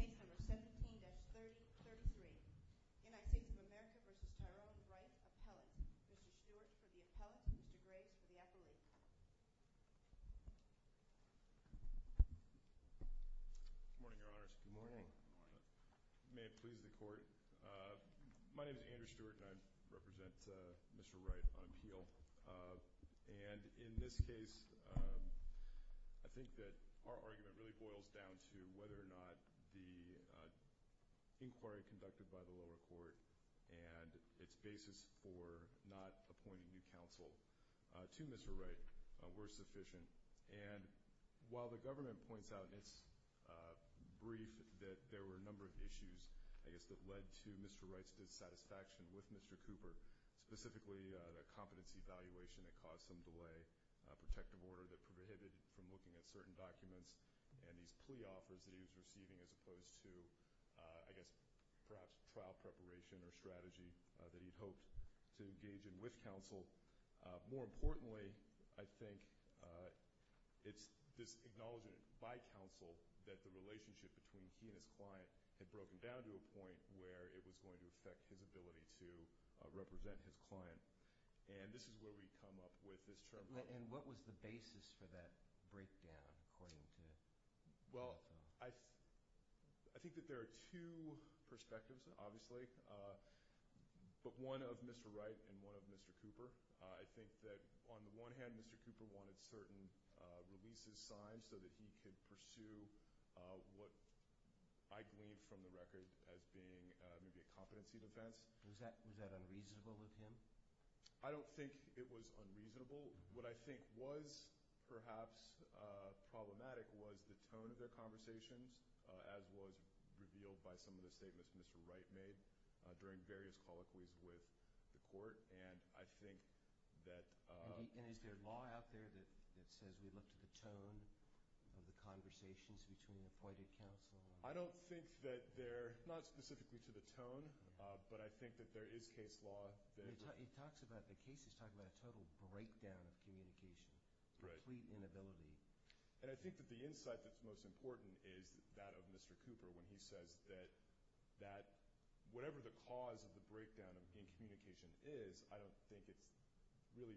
Case number 17-3033, United States of America v. Tyrone Wright, appellate. Mr. Stewart for the appellate, Mr. Graves for the appellate. Good morning, Your Honors. Good morning. May it please the Court. My name is Andrew Stewart, and I represent Mr. Wright on appeal. And in this case, I think that our argument really boils down to whether or not the inquiry conducted by the lower court and its basis for not appointing new counsel to Mr. Wright were sufficient. And while the government points out in its brief that there were a number of issues, I guess, that led to Mr. Wright's dissatisfaction with Mr. Cooper, specifically the competency evaluation that caused some delay, a protective order that prohibited him from looking at certain documents, and these plea offers that he was receiving as opposed to, I guess, perhaps trial preparation or strategy that he'd hoped to engage in with counsel. More importantly, I think it's this acknowledgment by counsel that the relationship between he and his client had broken down to a point where it was going to affect his ability to represent his client. And this is where we come up with this term. And what was the basis for that breakdown, according to counsel? I think that there are two perspectives, obviously, but one of Mr. Wright and one of Mr. Cooper. I think that on the one hand, Mr. Cooper wanted certain releases signed so that he could pursue what I gleaned from the record as being maybe a competency defense. Was that unreasonable with him? I don't think it was unreasonable. What I think was perhaps problematic was the tone of their conversations, as was revealed by some of the statements Mr. Wright made during various colloquies with the court. And I think that – And is there law out there that says we look to the tone of the conversations between the appointed counsel? I don't think that they're – not specifically to the tone, but I think that there is case law that – It talks about – the case is talking about a total breakdown of communication, complete inability. And I think that the insight that's most important is that of Mr. Cooper when he says that whatever the cause of the breakdown of communication is, I don't think it's really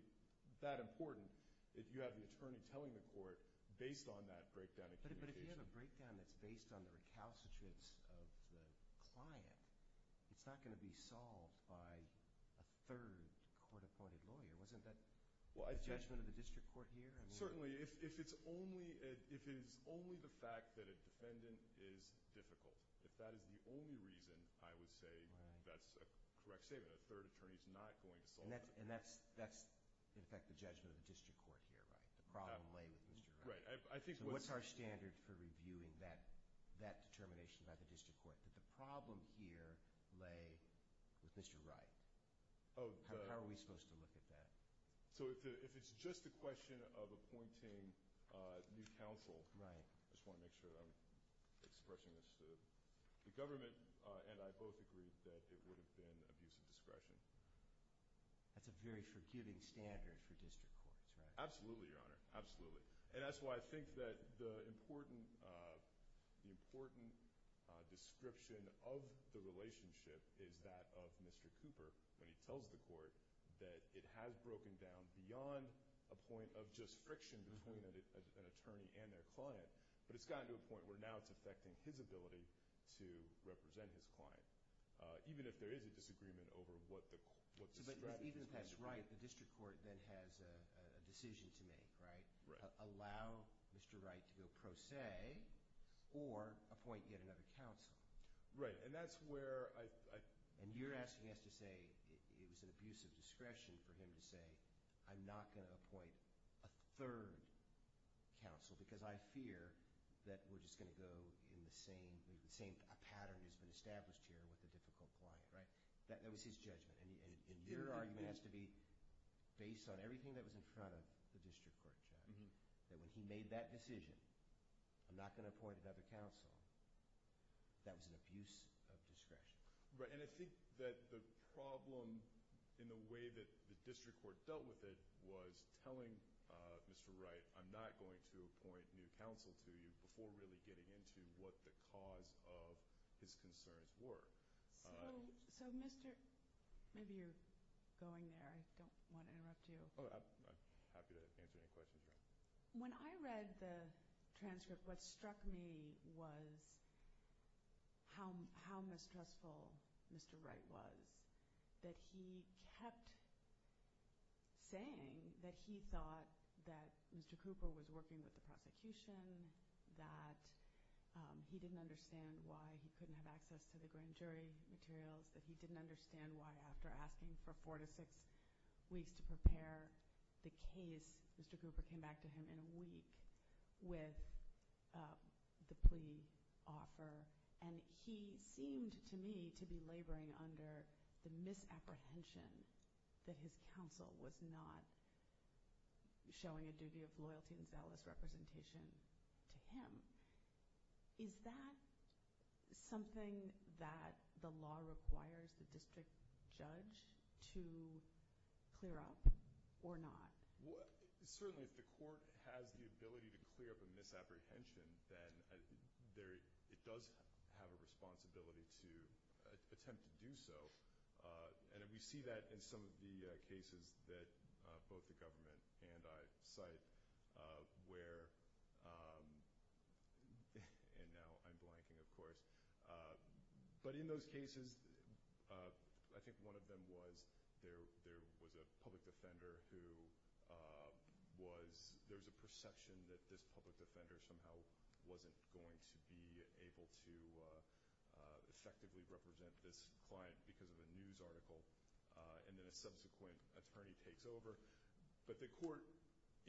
that important that you have the attorney telling the court based on that breakdown of communication. But if you have a breakdown that's based on the recalcitrance of the client, it's not going to be solved by a third court-appointed lawyer. Wasn't that the judgment of the district court here? Certainly. If it's only – if it is only the fact that a defendant is difficult, if that is the only reason, I would say that's a correct statement. A third attorney is not going to solve it. And that's, in effect, the judgment of the district court here, right? The problem lay with Mr. Wright. Right. I think – So what's our standard for reviewing that determination by the district court, that the problem here lay with Mr. Wright? How are we supposed to look at that? So if it's just a question of appointing new counsel – Right. I just want to make sure that I'm expressing this to the government, and I both agree that it would have been abuse of discretion. That's a very forgiving standard for district courts, right? Absolutely, Your Honor, absolutely. And that's why I think that the important description of the relationship is that of Mr. Cooper, when he tells the court that it has broken down beyond a point of just friction between an attorney and their client, but it's gotten to a point where now it's affecting his ability to represent his client, even if there is a disagreement over what the strategy is. Even if that's right, the district court then has a decision to make, right? Right. Allow Mr. Wright to go pro se or appoint yet another counsel. Right, and that's where I – And you're asking us to say it was an abuse of discretion for him to say, I'm not going to appoint a third counsel because I fear that we're just going to go in the same – the same pattern has been established here with the difficult client, right? That was his judgment, and your argument has to be based on everything that was in front of the district court judgment, that when he made that decision, I'm not going to appoint another counsel, that was an abuse of discretion. Right, and I think that the problem in the way that the district court dealt with it was telling Mr. Wright, I'm not going to appoint new counsel to you before really getting into what the cause of his concerns were. So Mr. – maybe you're going there. I don't want to interrupt you. I'm happy to answer any questions you have. When I read the transcript, what struck me was how mistrustful Mr. Wright was, that he kept saying that he thought that Mr. Cooper was working with the prosecution, that he didn't understand why he couldn't have access to the grand jury materials, that he didn't understand why after asking for four to six weeks to prepare the case, Mr. Cooper came back to him in a week with the plea offer, and he seemed to me to be laboring under the misapprehension that his counsel was not showing a duty of loyalty and zealous representation to him. Is that something that the law requires the district judge to clear up or not? Certainly, if the court has the ability to clear up a misapprehension, then it does have a responsibility to attempt to do so, and we see that in some of the cases that both the government and I cite where – and now I'm blanking, of course. But in those cases, I think one of them was there was a public defender who was – there was a perception that this public defender somehow wasn't going to be able to effectively represent this client because of a news article, and then a subsequent attorney takes over. But the court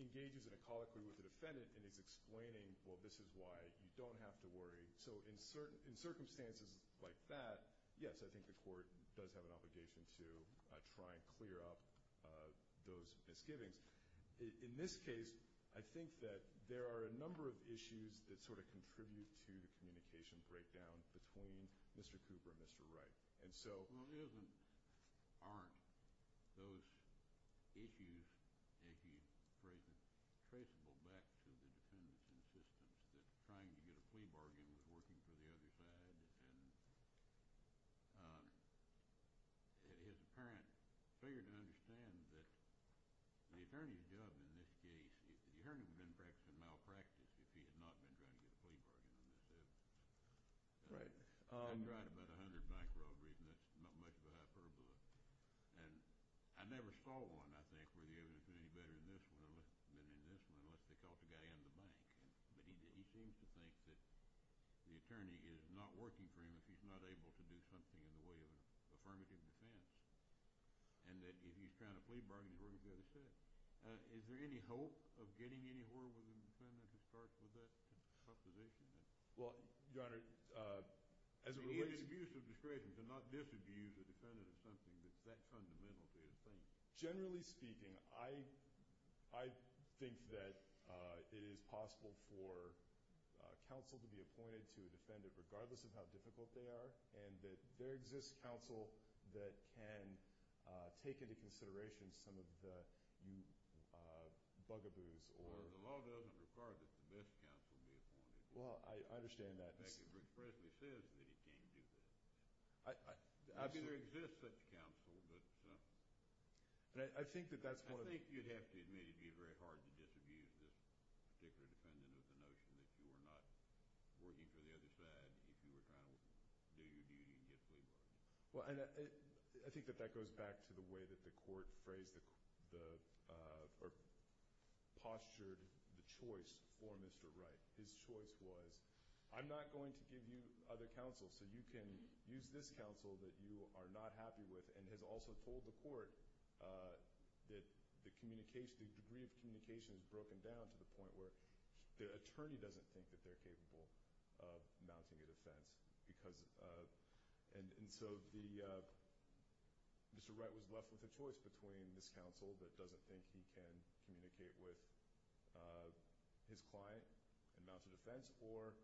engages in a colloquy with the defendant and is explaining, well, this is why you don't have to worry. So in circumstances like that, yes, I think the court does have an obligation to try and clear up those misgivings. In this case, I think that there are a number of issues that sort of contribute to the communication breakdown between Mr. Cooper and Mr. Wright. And so – Well, isn't – aren't those issues, if you phrase it, traceable back to the defendant's insistence that trying to get a plea bargain was working for the other side? And his apparent failure to understand that the attorney's job in this case – the attorney would have been practicing malpractice if he had not been trying to get a plea bargain on this case. Right. I tried about 100 bank robberies, and that's not much of a hyperbole. And I never saw one, I think, where the evidence was any better than this one, unless they caught the guy in the bank. But he seems to think that the attorney is not working for him if he's not able to do something in the way of an affirmative defense and that if he's trying to plea bargain, he's working for the other side. Is there any hope of getting anywhere with the defendant who starts with that proposition? Well, Your Honor, as it relates – Immediate abuse of discretion to not disabuse a defendant of something that's that fundamental to his claim. Generally speaking, I think that it is possible for counsel to be appointed to a defendant, regardless of how difficult they are, and that there exists counsel that can take into consideration some of the bugaboos or – Well, I understand that. Rick Presley says that he can't do that. I've seen – Maybe there exists such counsel, but – And I think that that's one of the – I think you'd have to admit it would be very hard to disabuse this particular defendant of the notion that you are not working for the other side if you were trying to do your duty and get a plea bargain. Well, and I think that that goes back to the way that the court phrased the – or postured the choice for Mr. Wright. His choice was, I'm not going to give you other counsel, so you can use this counsel that you are not happy with, and has also told the court that the communication – the degree of communication is broken down to the point where the attorney doesn't think that they're capable of mounting a defense. Because – and so the – Mr. Wright was left with a choice between this counsel that doesn't think he can communicate with his client and mount a defense, or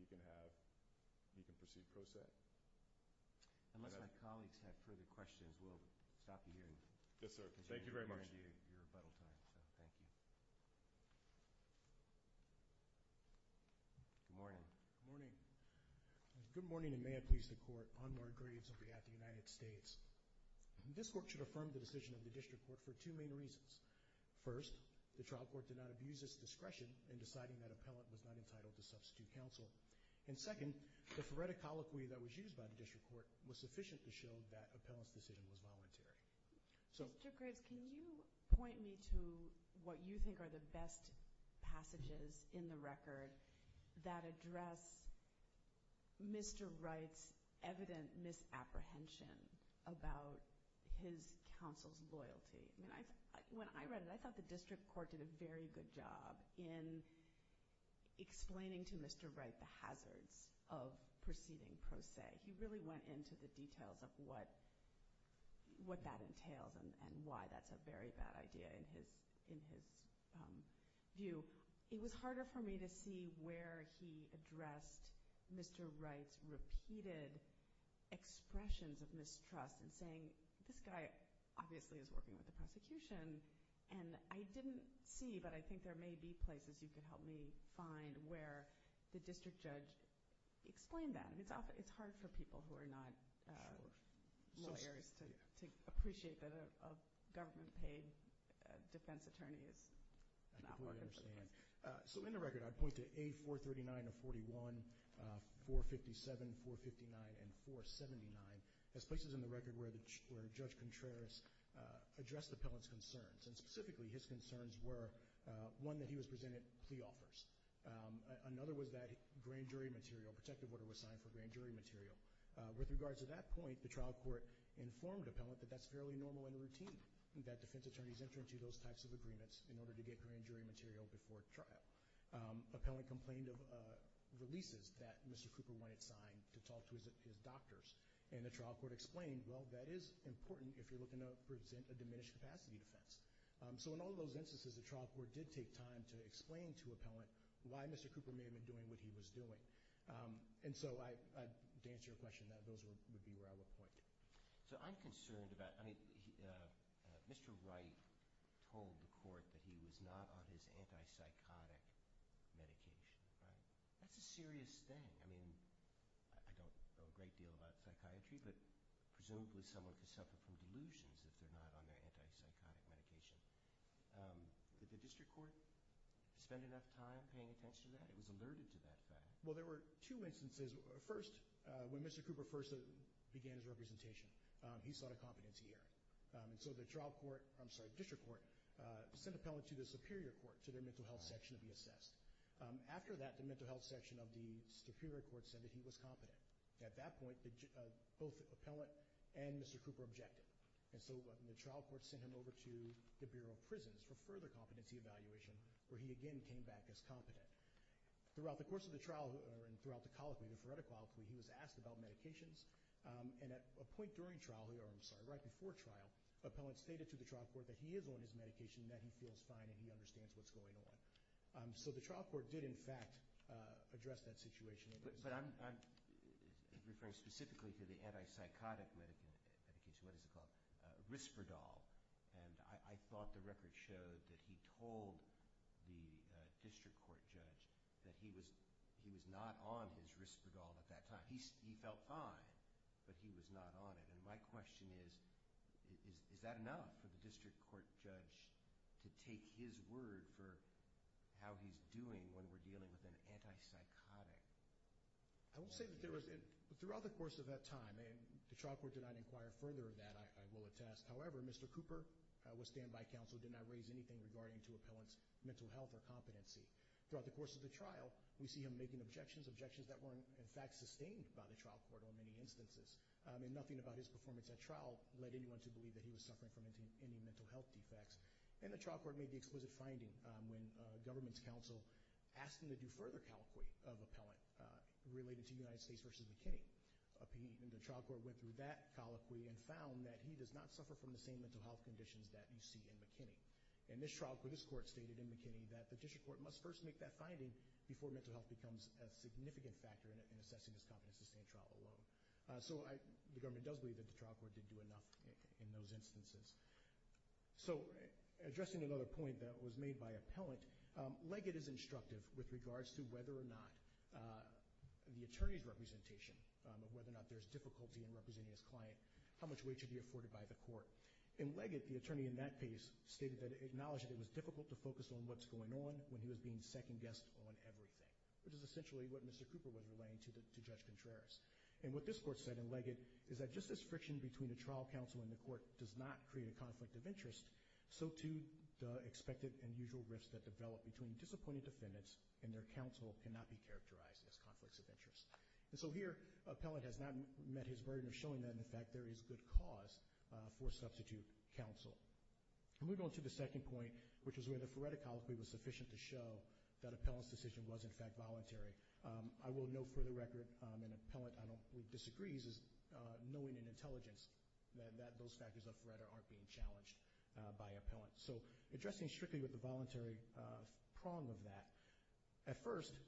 he can have – he can proceed pro se. Unless my colleagues have further questions, we'll stop you here. Yes, sir. Thank you very much. Because you've earned your rebuttal time, so thank you. Good morning. Good morning. Good morning, and may I please the court. Anwar Graves on behalf of the United States. This court should affirm the decision of the district court for two main reasons. First, the trial court did not abuse its discretion in deciding that appellant was not entitled to substitute counsel. And second, the phoretic colloquy that was used by the district court was sufficient to show that appellant's decision was voluntary. Mr. Graves, can you point me to what you think are the best passages in the record that address Mr. Wright's evident misapprehension about his counsel's loyalty? When I read it, I thought the district court did a very good job in explaining to Mr. Wright the hazards of proceeding pro se. He really went into the details of what that entails and why that's a very bad idea in his view. It was harder for me to see where he addressed Mr. Wright's repeated expressions of mistrust in saying this guy obviously is working with the prosecution. And I didn't see, but I think there may be places you could help me find where the district judge explained that. It's hard for people who are not lawyers to appreciate that a government-paid defense attorney is not working for the case. So in the record, I'd point to A439 and 41, 457, 459, and 479 as places in the record where Judge Contreras addressed the appellant's concerns. And specifically, his concerns were, one, that he was presented plea offers. Another was that grand jury material, protective order was signed for grand jury material. With regards to that point, the trial court informed appellant that that's fairly normal and routine, that defense attorneys enter into those types of agreements in order to get grand jury material before trial. Appellant complained of releases that Mr. Cooper wanted signed to talk to his doctors. And the trial court explained, well, that is important if you're looking to present a diminished capacity defense. So in all of those instances, the trial court did take time to explain to appellant why Mr. Cooper may have been doing what he was doing. And so to answer your question, those would be where I would point. So I'm concerned about – I mean, Mr. Wright told the court that he was not on his antipsychotic medication, right? That's a serious thing. I mean, I don't know a great deal about psychiatry, but presumably someone could suffer from delusions if they're not on their antipsychotic medication. Did the district court spend enough time paying attention to that? It was alerted to that fact. Well, there were two instances. First, when Mr. Cooper first began his representation, he sought a competency hearing. And so the trial court – I'm sorry, the district court sent appellant to the superior court, to their mental health section, to be assessed. After that, the mental health section of the superior court said that he was competent. At that point, both appellant and Mr. Cooper objected. And so the trial court sent him over to the Bureau of Prisons for further competency evaluation, where he again came back as competent. Throughout the course of the trial, and throughout the colloquy, the phoretic colloquy, he was asked about medications. And at a point during trial – or, I'm sorry, right before trial, appellant stated to the trial court that he is on his medication, that he feels fine, and he understands what's going on. So the trial court did, in fact, address that situation. But I'm referring specifically to the antipsychotic medication. What is it called? Risperdal. And I thought the record showed that he told the district court judge that he was not on his Risperdal at that time. He felt fine, but he was not on it. And my question is, is that enough for the district court judge to take his word for how he's doing when we're dealing with an antipsychotic? I will say that there was – throughout the course of that time, and the trial court did not inquire further of that, I will attest. However, Mr. Cooper, with standby counsel, did not raise anything regarding to appellant's mental health or competency. Throughout the course of the trial, we see him making objections, objections that were, in fact, sustained by the trial court on many instances. And nothing about his performance at trial led anyone to believe that he was suffering from any mental health defects. And the trial court made the explicit finding when government counsel asked him to do further colloquy of appellant related to United States v. McKinney. And the trial court went through that colloquy and found that he does not suffer from the same mental health conditions that you see in McKinney. And this trial court stated in McKinney that the district court must first make that finding before mental health becomes a significant factor in assessing his competence to stand trial alone. So I – the government does believe that the trial court did do enough in those instances. So, addressing another point that was made by appellant, Leggett is instructive with regards to whether or not the attorney's representation, whether or not there's difficulty in representing his client, how much weight should be afforded by the court. In Leggett, the attorney in that case stated that – acknowledged that it was difficult to focus on what's going on when he was being second-guessed on everything. Which is essentially what Mr. Cooper was relaying to Judge Contreras. And what this court said in Leggett is that just as friction between a trial counsel and the court does not create a conflict of interest, so too the expected and usual rifts that develop between disappointed defendants and their counsel cannot be characterized as conflicts of interest. And so here, appellant has not met his burden of showing that, in fact, there is good cause for substitute counsel. Moving on to the second point, which is where the Feretta Colloquy was sufficient to show that appellant's decision was, in fact, voluntary. I will note for the record, an appellant, I don't – who disagrees is knowing in intelligence that those factors of Feretta aren't being challenged by appellant. So, addressing strictly with the voluntary prong of that. At first,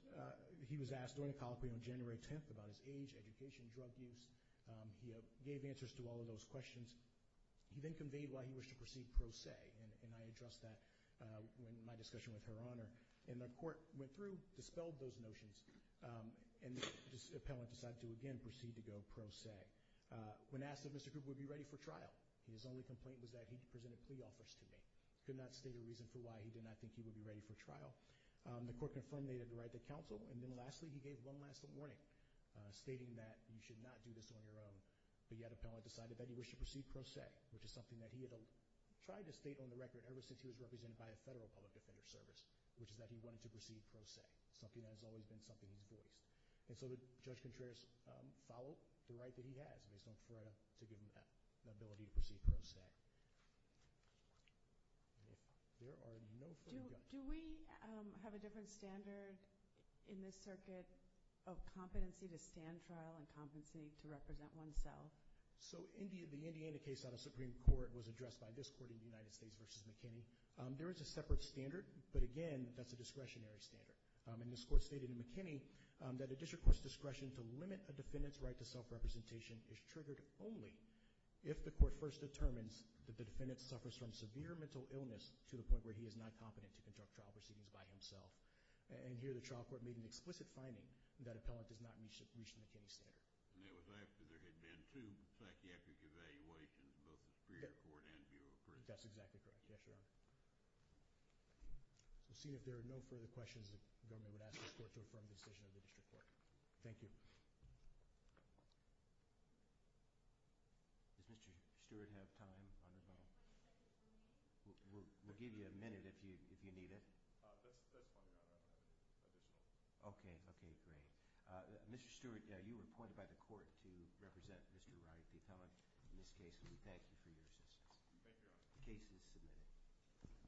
he was asked during the colloquy on January 10th about his age, education, drug use. He gave answers to all of those questions. He then conveyed why he wished to proceed pro se, and I addressed that in my discussion with Her Honor. And the court went through, dispelled those notions, and the appellant decided to, again, proceed to go pro se. When asked if Mr. Cooper would be ready for trial, his only complaint was that he presented plea offers to me. Could not state a reason for why he did not think he would be ready for trial. The court confirmed they had derided the counsel. And then lastly, he gave one last warning, stating that you should not do this on your own. But yet, appellant decided that he wished to proceed pro se, which is something that he had tried to state on the record ever since he was represented by the Federal Public Defender Service, which is that he wanted to proceed pro se. Something that has always been something he's voiced. And so, Judge Contreras followed the right that he has based on Feretta to give him the ability to proceed pro se. And if there are no further – So do we have a different standard in this circuit of competency to stand trial and competency to represent oneself? So the Indiana case out of Supreme Court was addressed by this court in the United States versus McKinney. There is a separate standard, but again, that's a discretionary standard. And this court stated in McKinney that a district court's discretion to limit a defendant's right to self-representation is triggered only if the court first determines that the defendant suffers from severe mental illness to the point where he is not competent to conduct trial proceedings by himself. And here, the trial court made an explicit finding that appellant does not reach the McKinney standard. And that was after there had been two psychiatric evaluations, both the Superior Court and Bureau of Prisons. That's exactly correct. Yes, Your Honor. We'll see if there are no further questions the government would ask this court to affirm the decision of the district court. Thank you. Does Mr. Stewart have time on the phone? We'll give you a minute if you need it. That's fine, Your Honor. I don't have any additional time. Okay. Okay, great. Mr. Stewart, you were appointed by the court to represent Mr. Wright, the appellant, in this case. We thank you for your assistance. Thank you, Your Honor. The case is submitted.